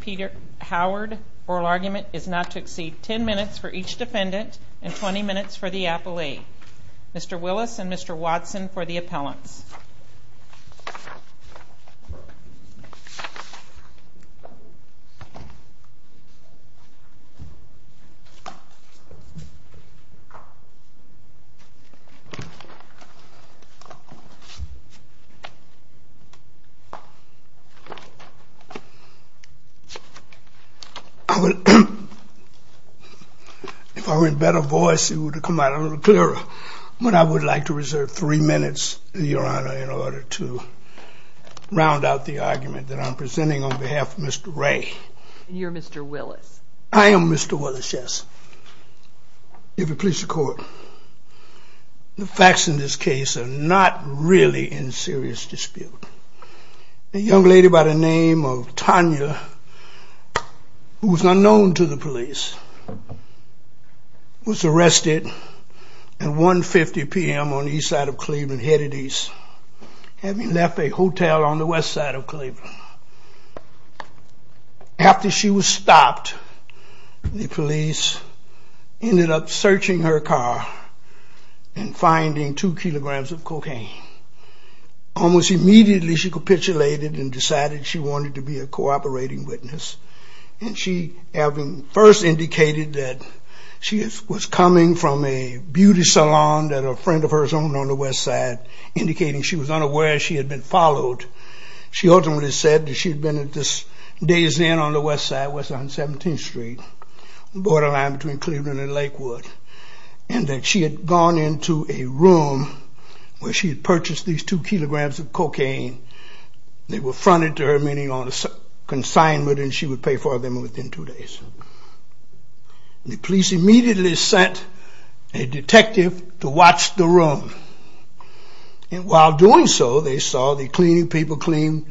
Peter Howard oral argument is not to exceed 10 minutes for each defendant and 20 minutes for the appellee, Mr. Willis and Mr. Watson for the appellants. If I were in better voice it would have come out a little clearer, but I would like to reserve three minutes in your honor. In order to round out the argument that I'm presenting on behalf of Mr. Ray. You're Mr. Willis. I am Mr. Willis, yes. If it pleases the court, the facts in this case are not really in serious dispute. A young lady by the name of Tanya, who is unknown to the police, was arrested at 1.50 p.m. on the east side of Cleveland, headed east, having left a hotel on the west side of Cleveland. After she was stopped, the police ended up searching her car and finding two kilograms of cocaine. Almost immediately she capitulated and decided she wanted to be a cooperating witness. And she having first indicated that she was coming from a beauty salon that a friend of hers owned on the west side, indicating she was unaware she had been followed. She ultimately said that she had been at this Days Inn on the west side, west on 17th Street, borderline between Cleveland and Lakewood. And that she had gone into a room where she had purchased these two kilograms of cocaine. They were fronted to her meeting on a consignment and she would pay for them within two days. The police immediately sent a detective to watch the room. And while doing so, they saw the cleaning people clean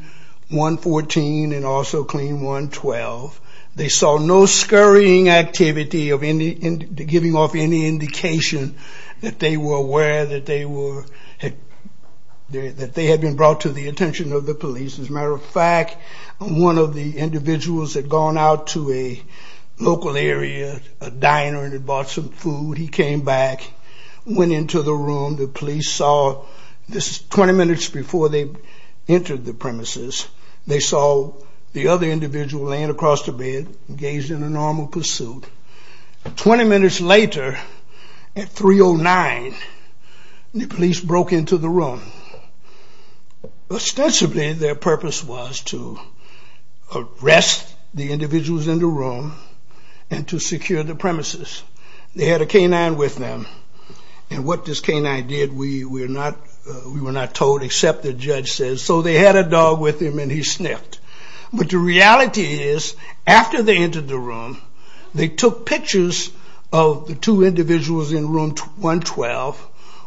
114 and also clean 112. They saw no scurrying activity of giving off any indication that they were aware that they had been brought to the attention of the police. As a matter of fact, one of the individuals had gone out to a local area, a diner, and had bought some food. He came back, went into the room. The police saw this 20 minutes before they entered the premises. They saw the other individual laying across the bed, engaged in a normal pursuit. Twenty minutes later, at 309, the police broke into the room. Ostensibly their purpose was to arrest the individuals in the room and to secure the premises. They had a canine with them. And what this canine did, we were not told except the judge said, so they had a dog with him and he sniffed. But the reality is, after they entered the room, they took pictures of the two individuals in room 112.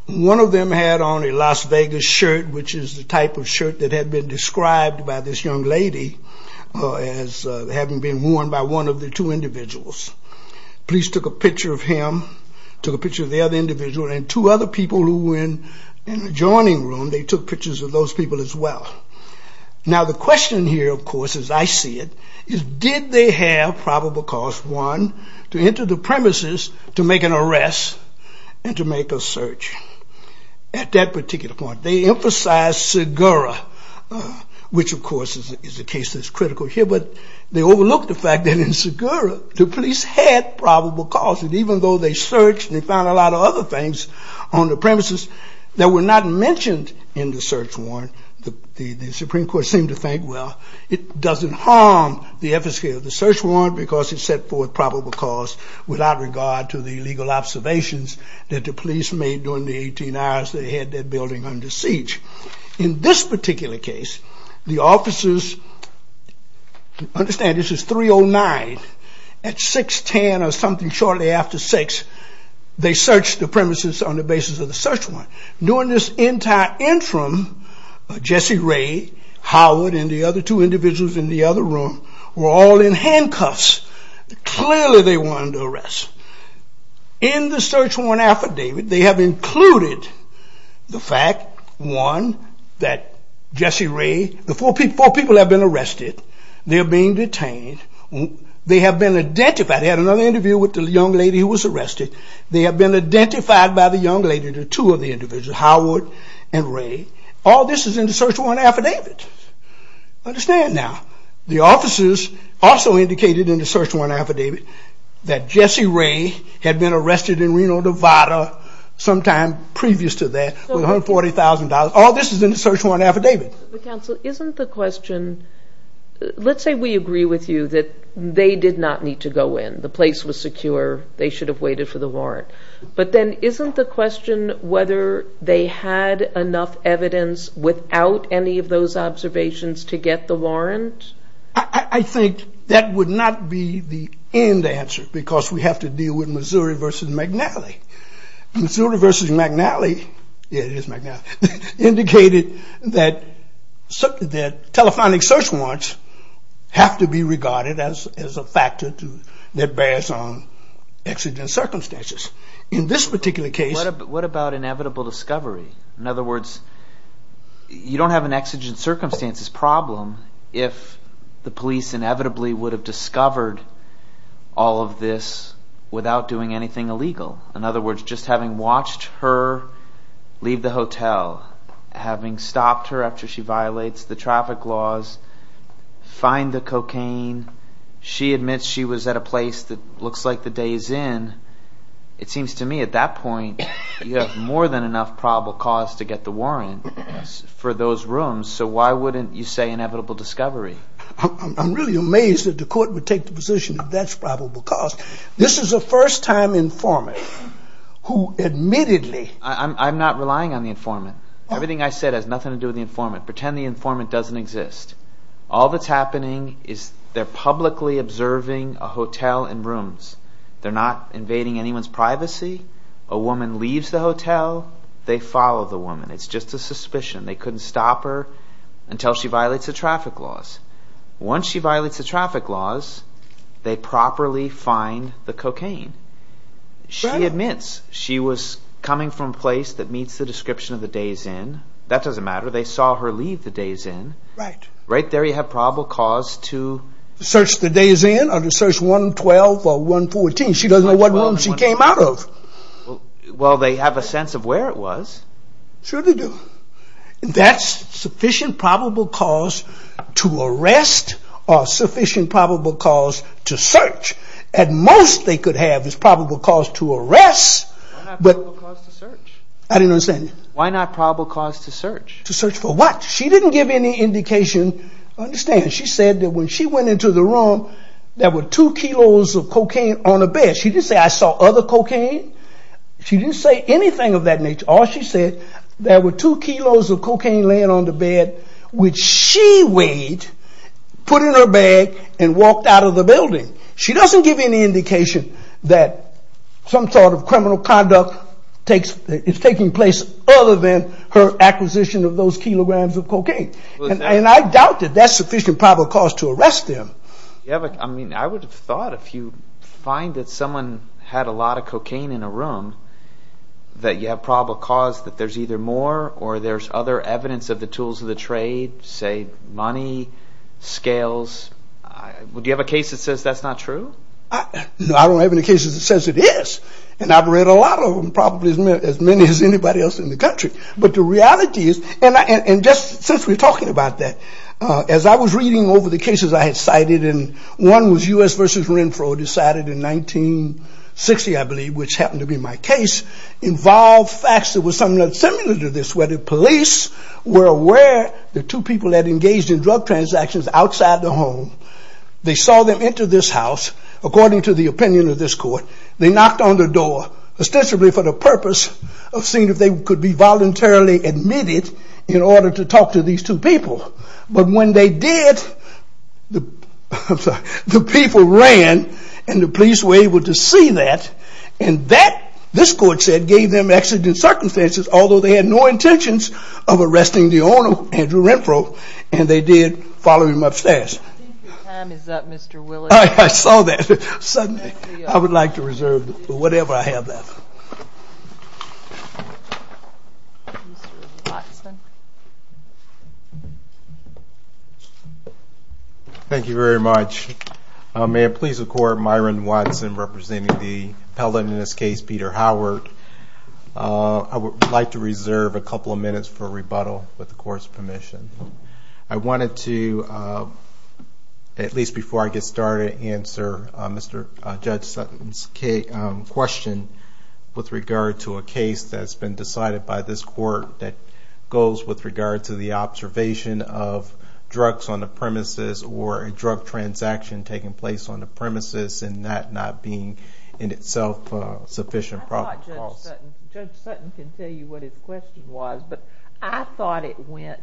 One of them had on a Las Vegas shirt, which is the type of shirt that had been described by this young lady as having been worn by one of the two individuals. The police took a picture of him, took a picture of the other individual, and two other people who were in the adjoining room, they took pictures of those people as well. Now the question here, of course, as I see it, is did they have probable cause one, to enter the premises, to make an arrest, and to make a search? At that particular point, they emphasized Segura, which of course is a case that's critical here. But they overlooked the fact that in Segura, the police had probable cause. And even though they searched and they found a lot of other things on the premises that were not mentioned in the search warrant, the Supreme Court seemed to think, well, it doesn't harm the efficacy of the search warrant because it set forth probable cause without regard to the legal observations that the police made during the 18 hours they had that building under siege. In this particular case, the officers, understand this is 309, at 610 or something shortly after 6, they searched the premises on the basis of the search warrant. During this entire interim, Jesse Ray, Howard, and the other two individuals in the other room were all in handcuffs. Clearly they wanted to arrest. In the search warrant affidavit, they have included the fact, one, that Jesse Ray, the four people have been arrested. They're being detained. They have been identified. They had another interview with the young lady who was arrested. They have been identified by the young lady, the two of the individuals, Howard and Ray. All this is in the search warrant affidavit. Understand now, the officers also indicated in the search warrant affidavit that Jesse Ray had been arrested in Reno, Nevada sometime previous to that with $140,000. All this is in the search warrant affidavit. Counsel, isn't the question, let's say we agree with you that they did not need to go in. The place was secure. They should have waited for the warrant. But then isn't the question whether they had enough evidence without any of those observations to get the warrant? I think that would not be the end answer because we have to deal with Missouri versus McNally. Missouri versus McNally, yeah it is McNally, indicated that telephonic search warrants have to be regarded as a factor that bears on accident circumstances. In this particular case… What about inevitable discovery? In other words, you don't have an accident circumstances problem if the police inevitably would have discovered all of this without doing anything illegal. In other words, just having watched her leave the hotel, having stopped her after she violates the traffic laws, find the cocaine. She admits she was at a place that looks like the day's end. It seems to me at that point you have more than enough probable cause to get the warrant for those rooms. So why wouldn't you say inevitable discovery? I'm really amazed that the court would take the position that that's probable cause. This is a first time informant who admittedly… I'm not relying on the informant. Everything I said has nothing to do with the informant. Pretend the informant doesn't exist. All that's happening is they're publicly observing a hotel and rooms. They're not invading anyone's privacy. A woman leaves the hotel. They follow the woman. It's just a suspicion. They couldn't stop her until she violates the traffic laws. Once she violates the traffic laws, they properly find the cocaine. She admits she was coming from a place that meets the description of the day's end. That doesn't matter. They saw her leave the day's end. Right. Right there you have probable cause to… Search the day's end or to search 112 or 114. She doesn't know what room she came out of. Well, they have a sense of where it was. Sure they do. That's sufficient probable cause to arrest or sufficient probable cause to search. At most they could have is probable cause to arrest. Why not probable cause to search? I didn't understand you. Why not probable cause to search? To search for what? She didn't give any indication. Understand, she said that when she went into the room, there were two kilos of cocaine on the bed. She didn't say, I saw other cocaine. She didn't say anything of that nature. All she said, there were two kilos of cocaine laying on the bed, which she weighed, put in her bag, and walked out of the building. She doesn't give any indication that some sort of criminal conduct is taking place other than her acquisition of those kilograms of cocaine. And I doubt that that's sufficient probable cause to arrest them. I mean, I would have thought if you find that someone had a lot of cocaine in a room, that you have probable cause that there's either more or there's other evidence of the tools of the trade, say money, scales. Do you have a case that says that's not true? No, I don't have any cases that says it is. And I've read a lot of them, probably as many as anybody else in the country. But the reality is, and just since we're talking about that, as I was reading over the cases I had cited, and one was U.S. versus Renfro decided in 1960, I believe, which happened to be my case, involved facts that were somewhat similar to this, where the police were aware the two people had engaged in drug transactions outside the home. They saw them enter this house, according to the opinion of this court. They knocked on the door, ostensibly for the purpose of seeing if they could be voluntarily admitted in order to talk to these two people. But when they did, the people ran, and the police were able to see that. And that, this court said, gave them exigent circumstances, although they had no intentions of arresting the owner, Andrew Renfro, and they did follow him upstairs. I think your time is up, Mr. Willis. I saw that. I would like to reserve whatever I have left. Mr. Watson. Thank you very much. May it please the Court, Myron Watson representing the appellant in this case, Peter Howard. I would like to reserve a couple of minutes for rebuttal, with the Court's permission. I wanted to, at least before I get started, answer Judge Sutton's question with regard to a case that has been decided by this Court, that goes with regard to the observation of drugs on the premises, or a drug transaction taking place on the premises, and that not being, in itself, sufficient profit. Judge Sutton can tell you what his question was, but I thought it went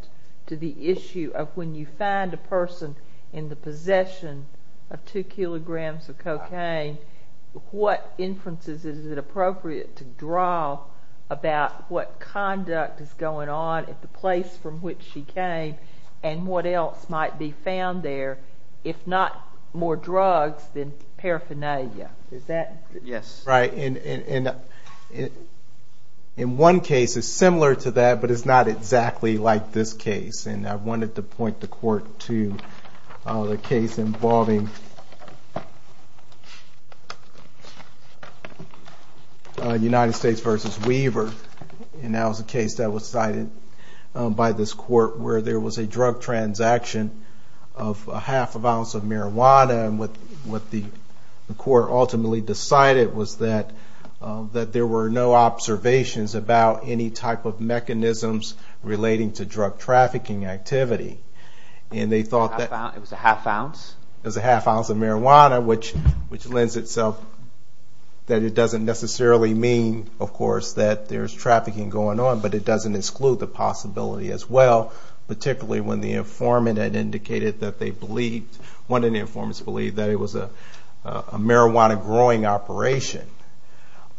to the issue of when you find a person in the possession of two kilograms of cocaine, what inferences is it appropriate to draw about what conduct is going on at the place from which she came, and what else might be found there, if not more drugs than paraphernalia. In one case, it's similar to that, but it's not exactly like this case. I wanted to point the Court to the case involving United States v. Weaver, and that was a case that was decided by this Court, where there was a drug transaction of half an ounce of marijuana, and what the Court ultimately decided was that there were no observations about any type of mechanisms relating to drug trafficking activity. It was a half ounce? It was a half ounce of marijuana, which lends itself that it doesn't necessarily mean, of course, that there's trafficking going on, but it doesn't exclude the possibility as well, particularly when the informant had indicated that they believed, one of the informants believed that it was a marijuana growing operation.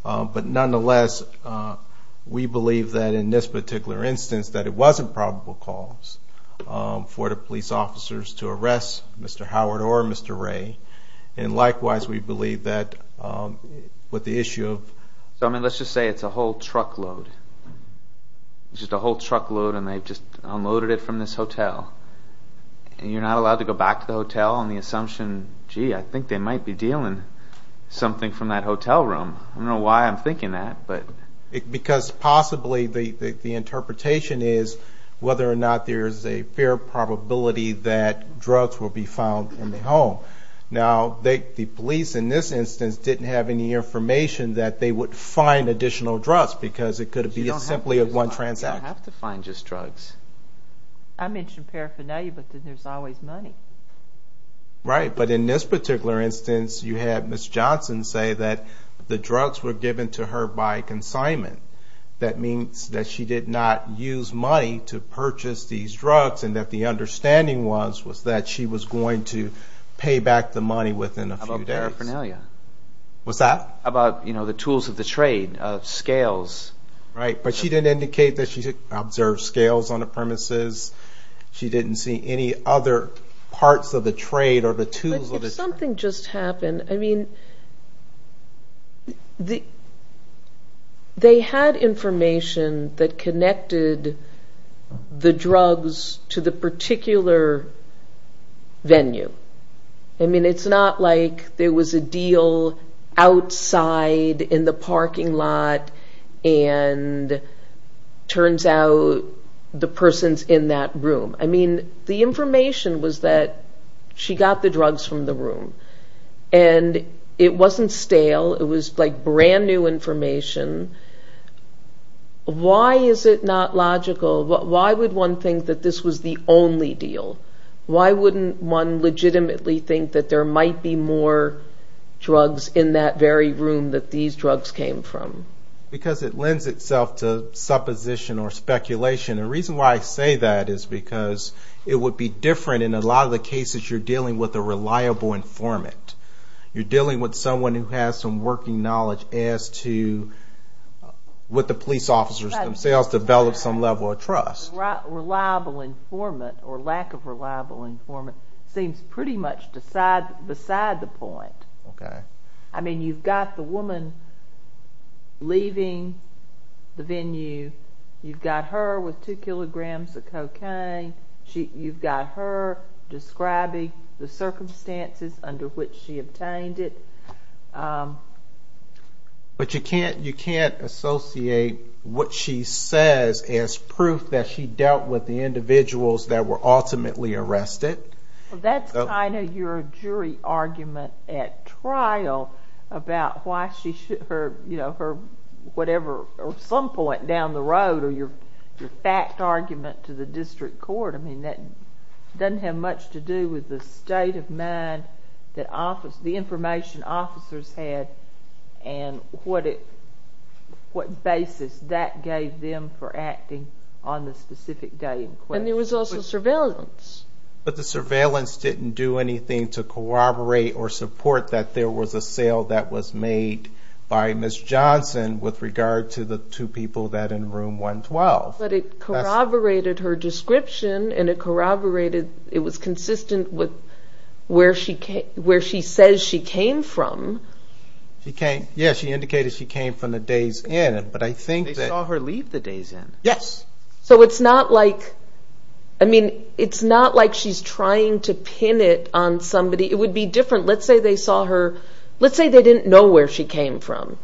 But nonetheless, we believe that in this particular instance, that it wasn't probable cause for the police officers to arrest Mr. Howard or Mr. Ray, and likewise, we believe that with the issue of... So let's just say it's a whole truckload, and they've just unloaded it from this hotel, and you're not allowed to go back to the hotel on the assumption, gee, I think they might be dealing with something from that hotel room. I don't know why I'm thinking that. Because possibly the interpretation is whether or not there's a fair probability that drugs will be found in the home. Now, the police in this instance didn't have any information that they would find additional drugs, because it could be simply a one transaction. You don't have to find just drugs. I mentioned paraphernalia, but then there's always money. Right, but in this particular instance, you had Ms. Johnson say that the drugs were given to her by consignment. That means that she did not use money to purchase these drugs, and that the understanding was that she was going to pay back the money within a few days. How about paraphernalia? What's that? How about the tools of the trade, scales? Right, but she didn't indicate that she observed scales on the premises. She didn't see any other parts of the trade or the tools of the trade. If something just happened, I mean, they had information that connected the drugs to the particular venue. I mean, it's not like there was a deal outside in the parking lot, and turns out the person's in that room. I mean, the information was that she got the drugs from the room, and it wasn't stale. It was like brand new information. Why is it not logical? Why would one think that this was the only deal? Why wouldn't one legitimately think that there might be more drugs in that very room that these drugs came from? Because it lends itself to supposition or speculation. The reason why I say that is because it would be different in a lot of the cases you're dealing with a reliable informant. You're dealing with someone who has some working knowledge as to what the police officers themselves develop some level of trust. Reliable informant or lack of reliable informant seems pretty much beside the point. Okay. I mean, you've got the woman leaving the venue. You've got her with two kilograms of cocaine. You've got her describing the circumstances under which she obtained it. But you can't associate what she says as proof that she dealt with the individuals that were ultimately arrested. Well, that's kind of your jury argument at trial about why she should her whatever or some point down the road or your fact argument to the district court. I mean, that doesn't have much to do with the state of mind that the information officers had and what basis that gave them for acting on the specific day in question. And there was also surveillance. But the surveillance didn't do anything to corroborate or support that there was a sale that was made by Ms. Johnson with regard to the two people that in room 112. But it corroborated her description and it corroborated it was consistent with where she says she came from. Yes, she indicated she came from the days in. They saw her leave the days in. Yes. So it's not like I mean, it's not like she's trying to pin it on somebody. It would be different. Let's say they saw her. Let's say they didn't know where she came from.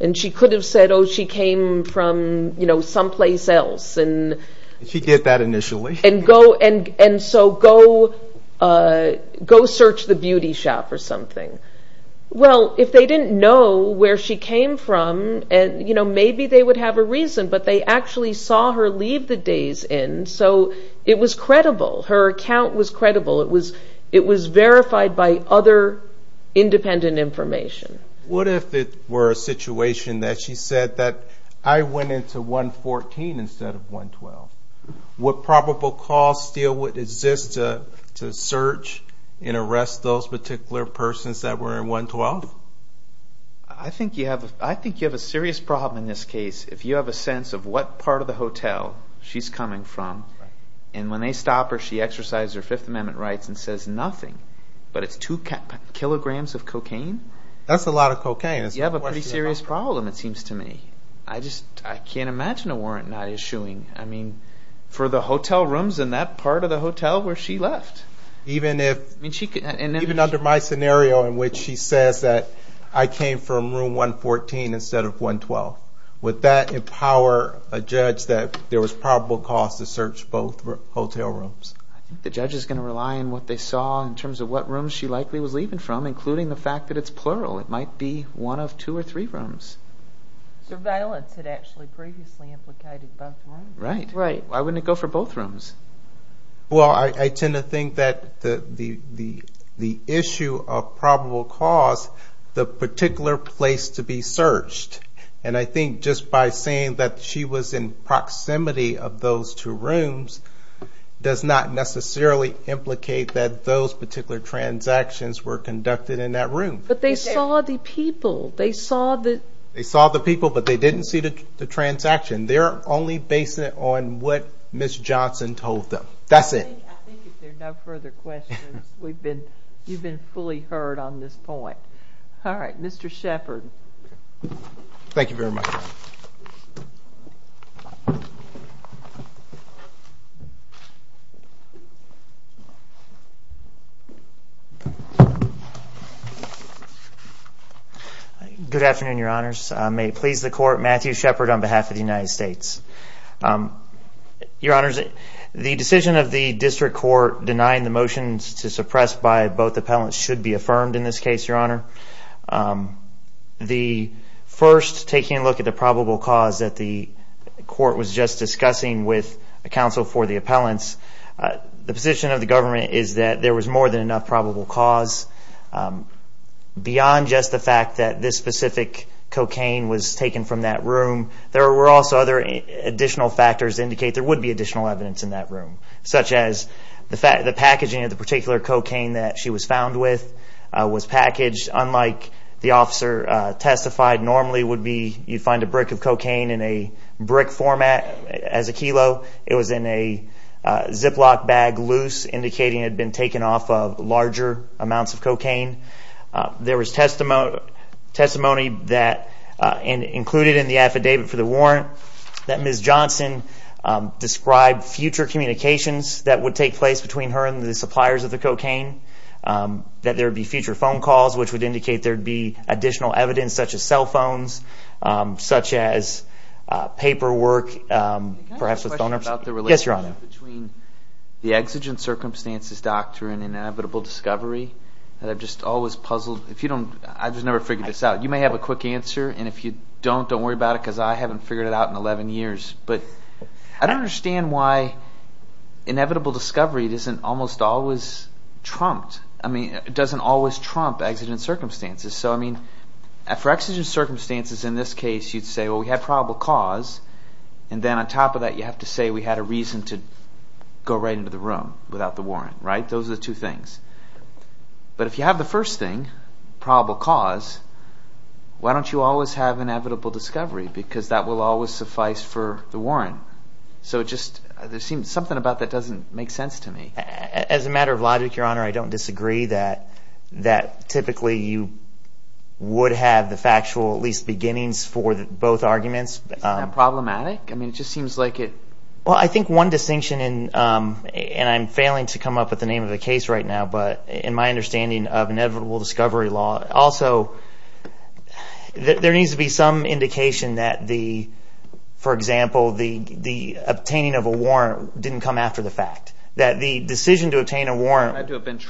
And she could have said, oh, she came from, you know, someplace else. And she did that initially. And go and and so go go search the beauty shop or something. Well, if they didn't know where she came from and, you know, maybe they would have a reason. But they actually saw her leave the days in. So it was credible. Her account was credible. It was it was verified by other independent information. What if it were a situation that she said that I went into 114 instead of 112? What probable cause still would exist to search and arrest those particular persons that were in 112? I think you have I think you have a serious problem in this case. If you have a sense of what part of the hotel she's coming from. And when they stop her, she exercises her Fifth Amendment rights and says nothing. But it's two kilograms of cocaine. That's a lot of cocaine. You have a pretty serious problem it seems to me. I just I can't imagine a warrant not issuing. I mean, for the hotel rooms in that part of the hotel where she left. Even if, even under my scenario in which she says that I came from room 114 instead of 112. Would that empower a judge that there was probable cause to search both hotel rooms? I think the judge is going to rely on what they saw in terms of what room she likely was leaving from. Including the fact that it's plural. It might be one of two or three rooms. Surveillance had actually previously implicated both rooms. Right. Why wouldn't it go for both rooms? Well, I tend to think that the issue of probable cause, the particular place to be searched. And I think just by saying that she was in proximity of those two rooms. Does not necessarily implicate that those particular transactions were conducted in that room. But they saw the people. They saw the people, but they didn't see the transaction. They're only basing it on what Ms. Johnson told them. That's it. I think if there are no further questions, you've been fully heard on this point. All right. Mr. Shepard. Thank you very much. Good afternoon, your honors. May it please the court, Matthew Shepard on behalf of the United States. Your honors, the decision of the district court denying the motions to suppress by both appellants should be affirmed in this case, your honor. The first, taking a look at the probable cause that the court was just discussing with a counsel for the appellants. The position of the government is that there was more than enough probable cause. Beyond just the fact that this specific cocaine was taken from that room. There were also other additional factors indicate there would be additional evidence in that room. Such as the packaging of the particular cocaine that she was found with was packaged unlike the officer testified normally would be. You'd find a brick of cocaine in a brick format as a kilo. It was in a Ziploc bag loose indicating it had been taken off of larger amounts of cocaine. There was testimony that included in the affidavit for the warrant that Ms. Johnson described future communications that would take place between her and the suppliers of the cocaine. That there would be future phone calls which would indicate there would be additional evidence such as cell phones, such as paperwork, perhaps with donors. Between the exigent circumstances doctrine and inevitable discovery that I've just always puzzled. I've just never figured this out. You may have a quick answer and if you don't, don't worry about it because I haven't figured it out in 11 years. But I don't understand why inevitable discovery doesn't almost always trump exigent circumstances. For exigent circumstances in this case you'd say we have probable cause and then on top of that you have to say we had a reason to go right into the room without the warrant. Those are the two things. But if you have the first thing, probable cause, why don't you always have inevitable discovery? Because that will always suffice for the warrant. There seems to be something about that that doesn't make sense to me. As a matter of logic, your honor, I don't disagree that typically you would have the factual at least beginnings for both arguments. Isn't that problematic? I mean it just seems like it. Well, I think one distinction and I'm failing to come up with the name of the case right now. But in my understanding of inevitable discovery law, also there needs to be some indication that the, for example, the obtaining of a warrant didn't come after the fact. That the decision to obtain a warrant had to have been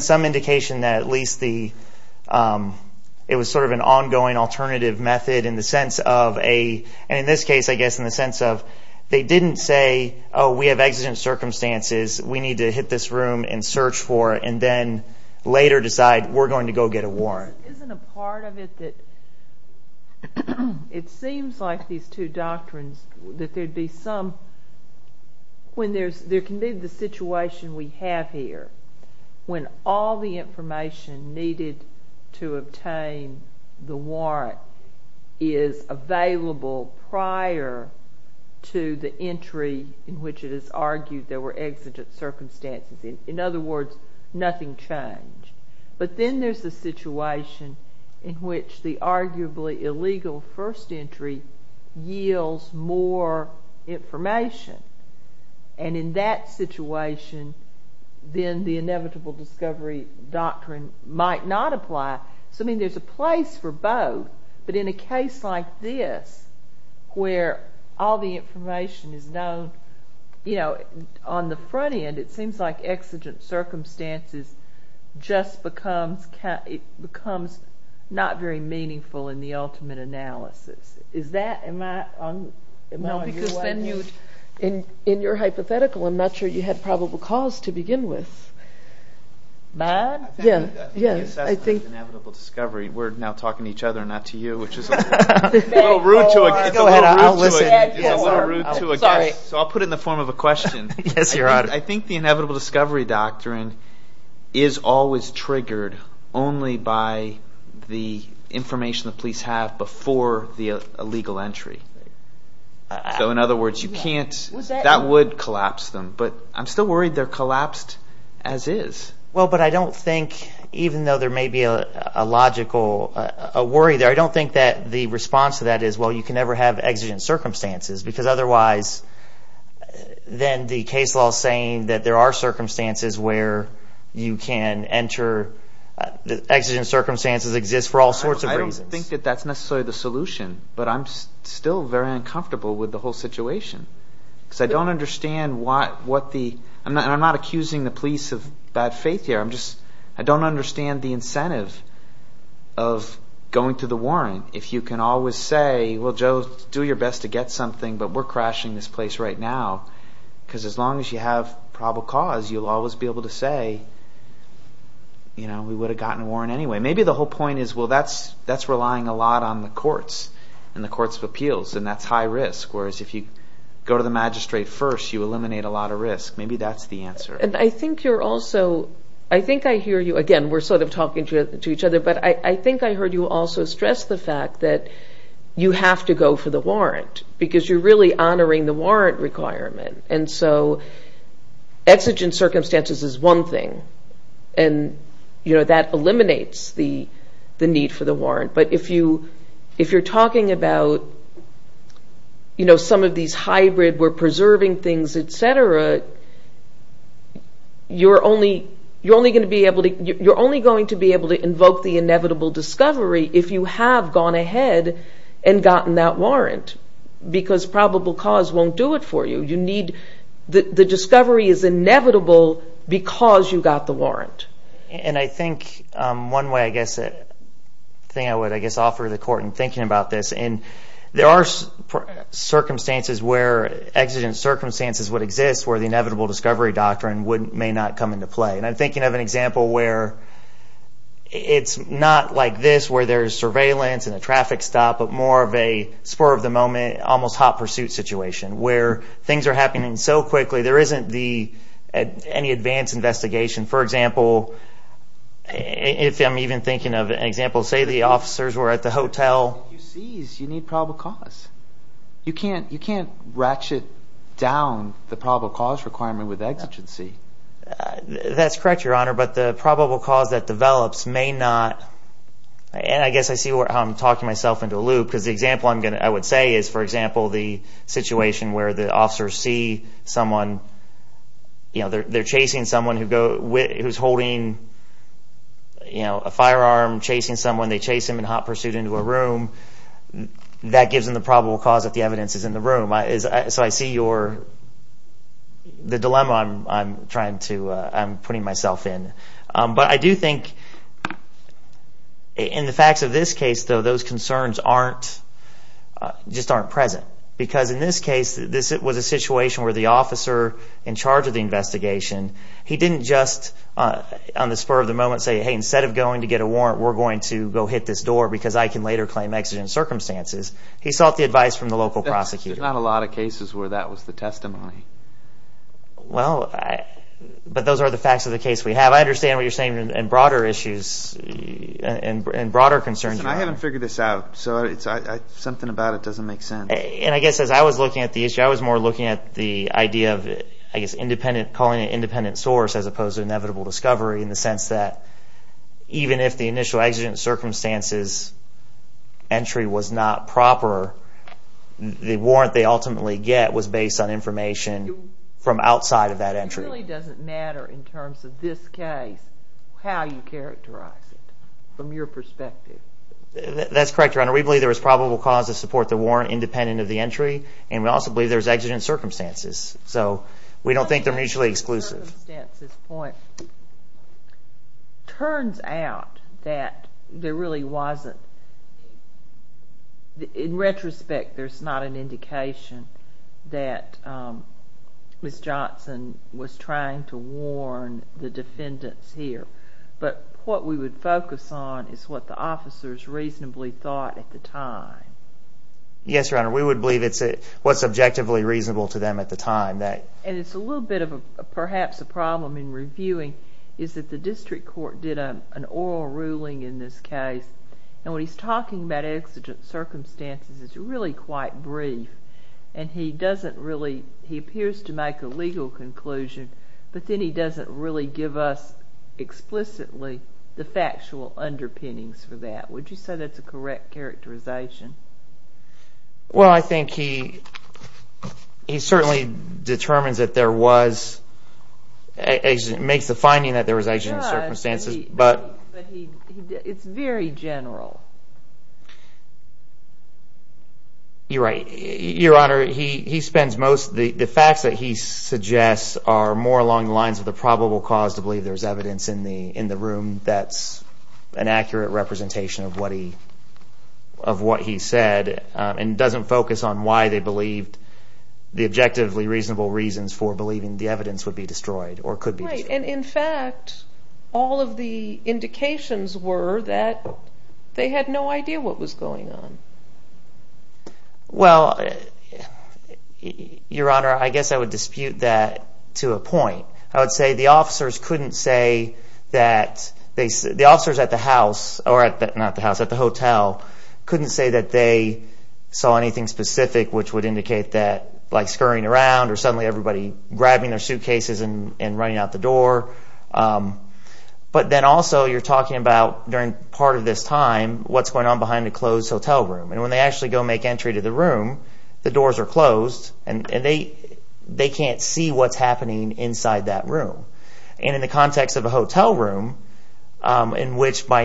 some indication that at least it was sort of an ongoing alternative method in the sense of a, and in this case I guess in the sense of they didn't say, oh, we have exigent circumstances. We need to hit this room and search for it and then later decide we're going to go get a warrant. But isn't a part of it that it seems like these two doctrines that there'd be some, when there's, there can be the situation we have here when all the information needed to obtain the warrant is available prior to the entry in which it is argued there were exigent circumstances. In other words, nothing changed. But then there's the situation in which the arguably illegal first entry yields more information. And in that situation, then the inevitable discovery doctrine might not apply. So I mean there's a place for both, but in a case like this where all the information is known, you know, on the front end it seems like exigent circumstances just becomes, it becomes not very meaningful in the ultimate analysis. Is that, am I on your way? No, because then you, in your hypothetical I'm not sure you had probable cause to begin with. Mine? Yeah, yeah. I think the assessment of inevitable discovery, we're now talking to each other and not to you, which is a little rude to a guest. So I'll put it in the form of a question. Yes, Your Honor. I think the inevitable discovery doctrine is always triggered only by the information the police have before the illegal entry. So in other words, you can't, that would collapse them. But I'm still worried they're collapsed as is. Well, but I don't think, even though there may be a logical, a worry there, I don't think that the response to that is well, you can never have exigent circumstances because otherwise then the case law is saying that there are circumstances where you can enter, exigent circumstances exist for all sorts of reasons. I don't think that that's necessarily the solution. But I'm still very uncomfortable with the whole situation because I don't understand what the, and I'm not accusing the police of bad faith here. I'm just, I don't understand the incentive of going to the warrant. If you can always say, well, Joe, do your best to get something, but we're crashing this place right now. Because as long as you have probable cause, you'll always be able to say, you know, we would have gotten a warrant anyway. Maybe the whole point is, well, that's relying a lot on the courts and the courts of appeals, and that's high risk. Whereas if you go to the magistrate first, you eliminate a lot of risk. Maybe that's the answer. And I think you're also, I think I hear you, again, we're sort of talking to each other, but I think I heard you also stress the fact that you have to go for the warrant because you're really honoring the warrant requirement. And so exigent circumstances is one thing, and, you know, that eliminates the need for the warrant. But if you're talking about, you know, some of these hybrid, we're preserving things, et cetera, you're only going to be able to invoke the inevitable discovery if you have gone ahead and gotten that warrant. Because probable cause won't do it for you. You need, the discovery is inevitable because you got the warrant. And I think one way, I guess, thing I would, I guess, offer the court in thinking about this, and there are circumstances where exigent circumstances would exist where the inevitable discovery doctrine may not come into play. And I'm thinking of an example where it's not like this where there's surveillance and a traffic stop, but more of a spur of the moment, almost hot pursuit situation where things are happening so quickly, there isn't any advanced investigation. For example, if I'm even thinking of an example, say the officers were at the hotel. If you seize, you need probable cause. You can't ratchet down the probable cause requirement with exigency. That's correct, Your Honor, but the probable cause that develops may not – and I guess I see how I'm talking myself into a loop because the example I would say is, for example, the situation where the officers see someone, you know, they're chasing someone who's holding a firearm, chasing someone. They chase him in hot pursuit into a room. That gives them the probable cause if the evidence is in the room. So I see your – the dilemma I'm trying to – I'm putting myself in. But I do think in the facts of this case, though, those concerns aren't – just aren't present because in this case, this was a situation where the officer in charge of the investigation, he didn't just on the spur of the moment say, hey, instead of going to get a warrant, we're going to go hit this door because I can later claim exigent circumstances. He sought the advice from the local prosecutor. There's not a lot of cases where that was the testimony. Well, but those are the facts of the case we have. I understand what you're saying in broader issues and broader concerns, Your Honor. Listen, I haven't figured this out, so something about it doesn't make sense. And I guess as I was looking at the issue, I was more looking at the idea of, I guess, independent – as opposed to inevitable discovery in the sense that even if the initial exigent circumstances entry was not proper, the warrant they ultimately get was based on information from outside of that entry. It really doesn't matter in terms of this case how you characterize it from your perspective. That's correct, Your Honor. We believe there was probable cause to support the warrant independent of the entry, and we also believe there was exigent circumstances. So we don't think they're mutually exclusive. On the circumstances point, turns out that there really wasn't – in retrospect, there's not an indication that Ms. Johnson was trying to warn the defendants here. But what we would focus on is what the officers reasonably thought at the time. Yes, Your Honor, we would believe it's what's objectively reasonable to them at the time. And it's a little bit of perhaps a problem in reviewing is that the district court did an oral ruling in this case. And when he's talking about exigent circumstances, it's really quite brief. And he doesn't really – he appears to make a legal conclusion, but then he doesn't really give us explicitly the factual underpinnings for that. Would you say that's a correct characterization? Well, I think he certainly determines that there was – makes the finding that there was exigent circumstances. But he – it's very general. You're right. Your Honor, he spends most – the facts that he suggests are more along the lines of the probable cause to believe there's evidence in the room that's an accurate representation of what he said and doesn't focus on why they believed the objectively reasonable reasons for believing the evidence would be destroyed or could be destroyed. Right. And in fact, all of the indications were that they had no idea what was going on. Well, Your Honor, I guess I would dispute that to a point. I would say the officers couldn't say that they – the officers at the house – or at the – not the house, at the hotel couldn't say that they saw anything specific which would indicate that like scurrying around or suddenly everybody grabbing their suitcases and running out the door. But then also you're talking about during part of this time what's going on behind a closed hotel room. And when they actually go make entry to the room, the doors are closed and they can't see what's happening inside that room. And in the context of a hotel room in which by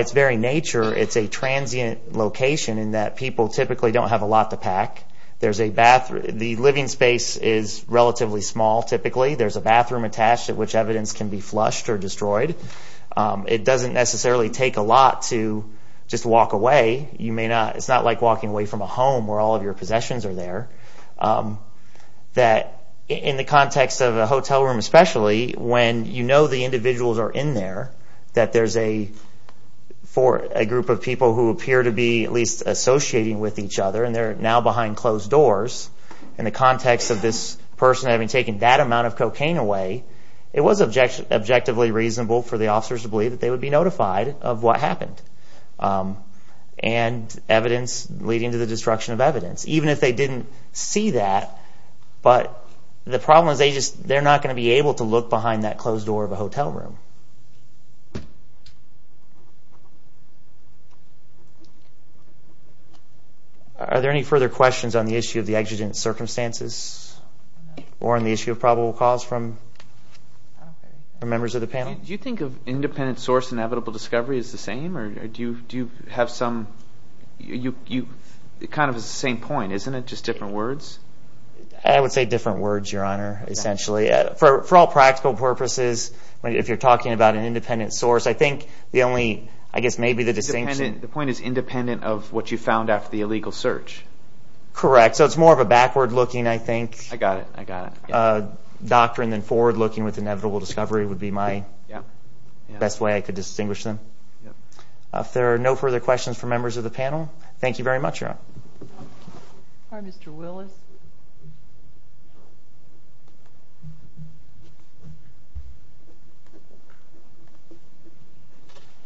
its very nature it's a transient location in that people typically don't have a lot to pack. There's a – the living space is relatively small typically. There's a bathroom attached at which evidence can be flushed or destroyed. It doesn't necessarily take a lot to just walk away. You may not – it's not like walking away from a home where all of your possessions are there. That in the context of a hotel room especially when you know the individuals are in there, that there's a – for a group of people who appear to be at least associating with each other and they're now behind closed doors. In the context of this person having taken that amount of cocaine away, it was objectively reasonable for the officers to believe that they would be notified of what happened and evidence leading to the destruction of evidence. Even if they didn't see that, but the problem is they just – they're not going to be able to look behind that closed door of a hotel room. Are there any further questions on the issue of the exigent circumstances or on the issue of probable cause from members of the panel? Do you think of independent source and inevitable discovery as the same or do you have some – it kind of is the same point, isn't it? Just different words? I would say different words, Your Honor, essentially. For all practical purposes, if you're talking about an independent source, I think the only – I guess maybe the distinction – The point is independent of what you found after the illegal search. Correct. So it's more of a backward looking, I think. I got it. I got it. Doctrine and forward looking with inevitable discovery would be my best way I could distinguish them. If there are no further questions from members of the panel, thank you very much, Your Honor. Mr. Willis.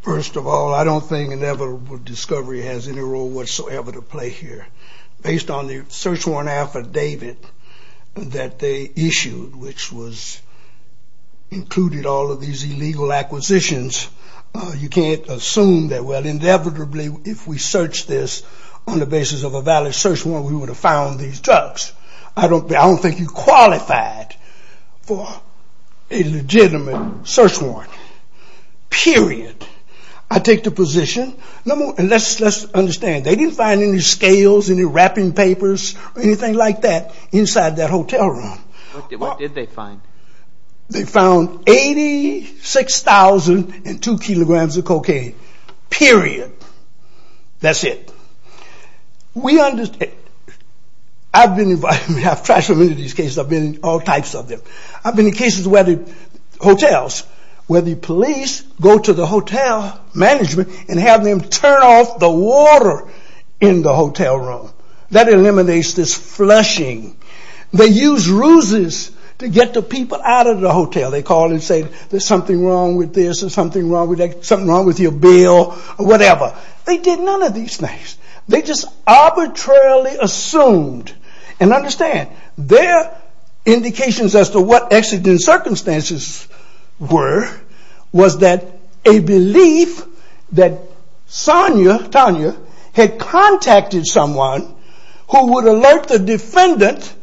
First of all, I don't think inevitable discovery has any role whatsoever to play here. Based on the search warrant affidavit that they issued, which included all of these illegal acquisitions, you can't assume that, well, inevitably, if we searched this on the basis of a valid search warrant, we would have found these drugs. I don't think you're qualified for a legitimate search warrant. Period. I take the position – and let's understand, they didn't find any scales, any wrapping papers or anything like that inside that hotel room. What did they find? They found 86,002 kilograms of cocaine. Period. That's it. We understand. I've been – I've tried so many of these cases. I've been in all types of them. I've been in cases where the hotels, where the police go to the hotel management and have them turn off the water in the hotel room. That eliminates this flushing. They use ruses to get the people out of the hotel. They call and say there's something wrong with this or something wrong with that, something wrong with your bill or whatever. They did none of these things. They just arbitrarily assumed. And understand, their indications as to what accident circumstances were was that a belief that Tanya had contacted someone who would alert the defendant,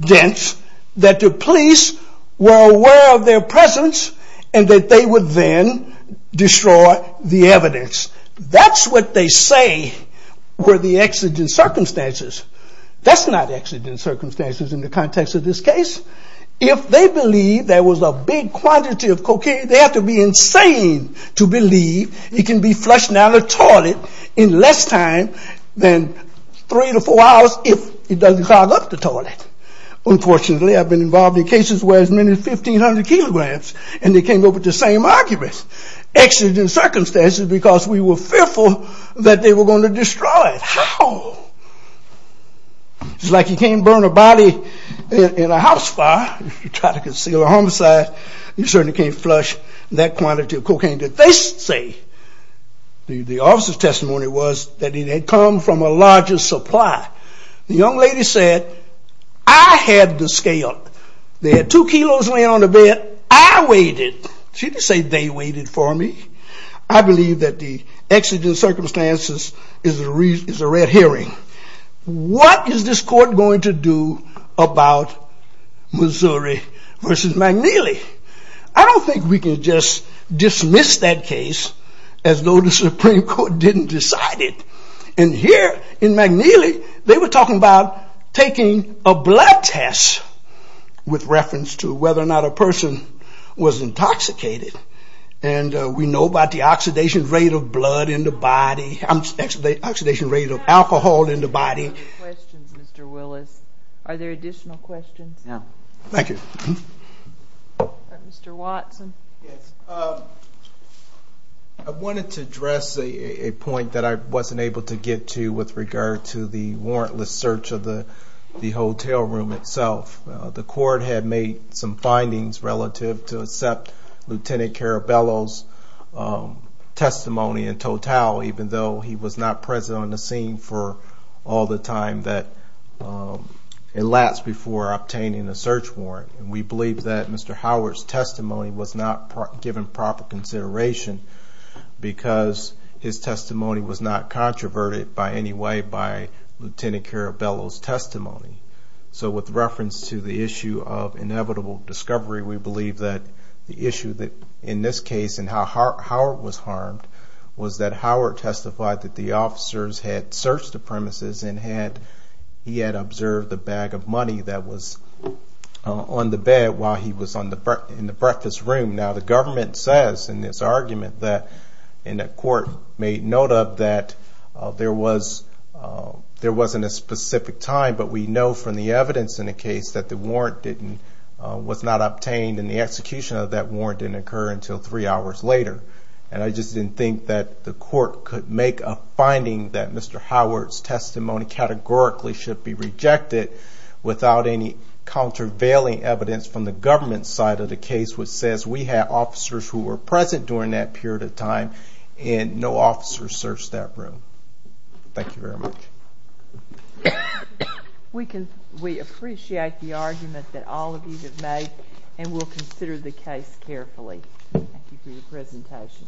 that the police were aware of their presence and that they would then destroy the evidence. That's what they say were the accident circumstances. That's not accident circumstances in the context of this case. If they believe there was a big quantity of cocaine, they have to be insane to believe it can be flushed down the toilet in less time than three to four hours if it doesn't clog up the toilet. Unfortunately, I've been involved in cases where as many as 1,500 kilograms and they came up with the same arguments. Accident circumstances because we were fearful that they were going to destroy it. How? It's like you can't burn a body in a house fire if you try to conceal a homicide. You certainly can't flush that quantity of cocaine that they say. The officer's testimony was that it had come from a larger supply. The young lady said, I had the scale. They had two kilos laying on the bed. I weighed it. She didn't say they weighed it for me. I believe that the accident circumstances is a red herring. What is this court going to do about Missouri versus McNeely? I don't think we can just dismiss that case as though the Supreme Court didn't decide it. And here in McNeely, they were talking about taking a blood test with reference to whether or not a person was intoxicated. And we know about the oxidation rate of blood in the body, oxidation rate of alcohol in the body. We have time for questions, Mr. Willis. Are there additional questions? No. Thank you. Mr. Watson. Yes. I wanted to address a point that I wasn't able to get to with regard to the warrantless search of the hotel room itself. The court had made some findings relative to accept Lieutenant Carabello's testimony in total, even though he was not present on the scene for all the time that elapsed before obtaining the search warrant. And we believe that Mr. Howard's testimony was not given proper consideration because his testimony was not controverted by any way by Lieutenant Carabello's testimony. So with reference to the issue of inevitable discovery, we believe that the issue in this case and how Howard was harmed was that Howard testified that the officers had searched the premises and he had observed the bag of money that was on the bed while he was in the breakfast room. Now, the government says in this argument that, and the court made note of, that there wasn't a specific time, but we know from the evidence in the case that the warrant was not obtained and the execution of that warrant didn't occur until three hours later. And I just didn't think that the court could make a finding that Mr. Howard's testimony categorically should be rejected without any countervailing evidence from the government side of the case which says we had officers who were present during that period of time and no officers searched that room. Thank you very much. We appreciate the argument that all of you have made and will consider the case carefully. Thank you for your presentation.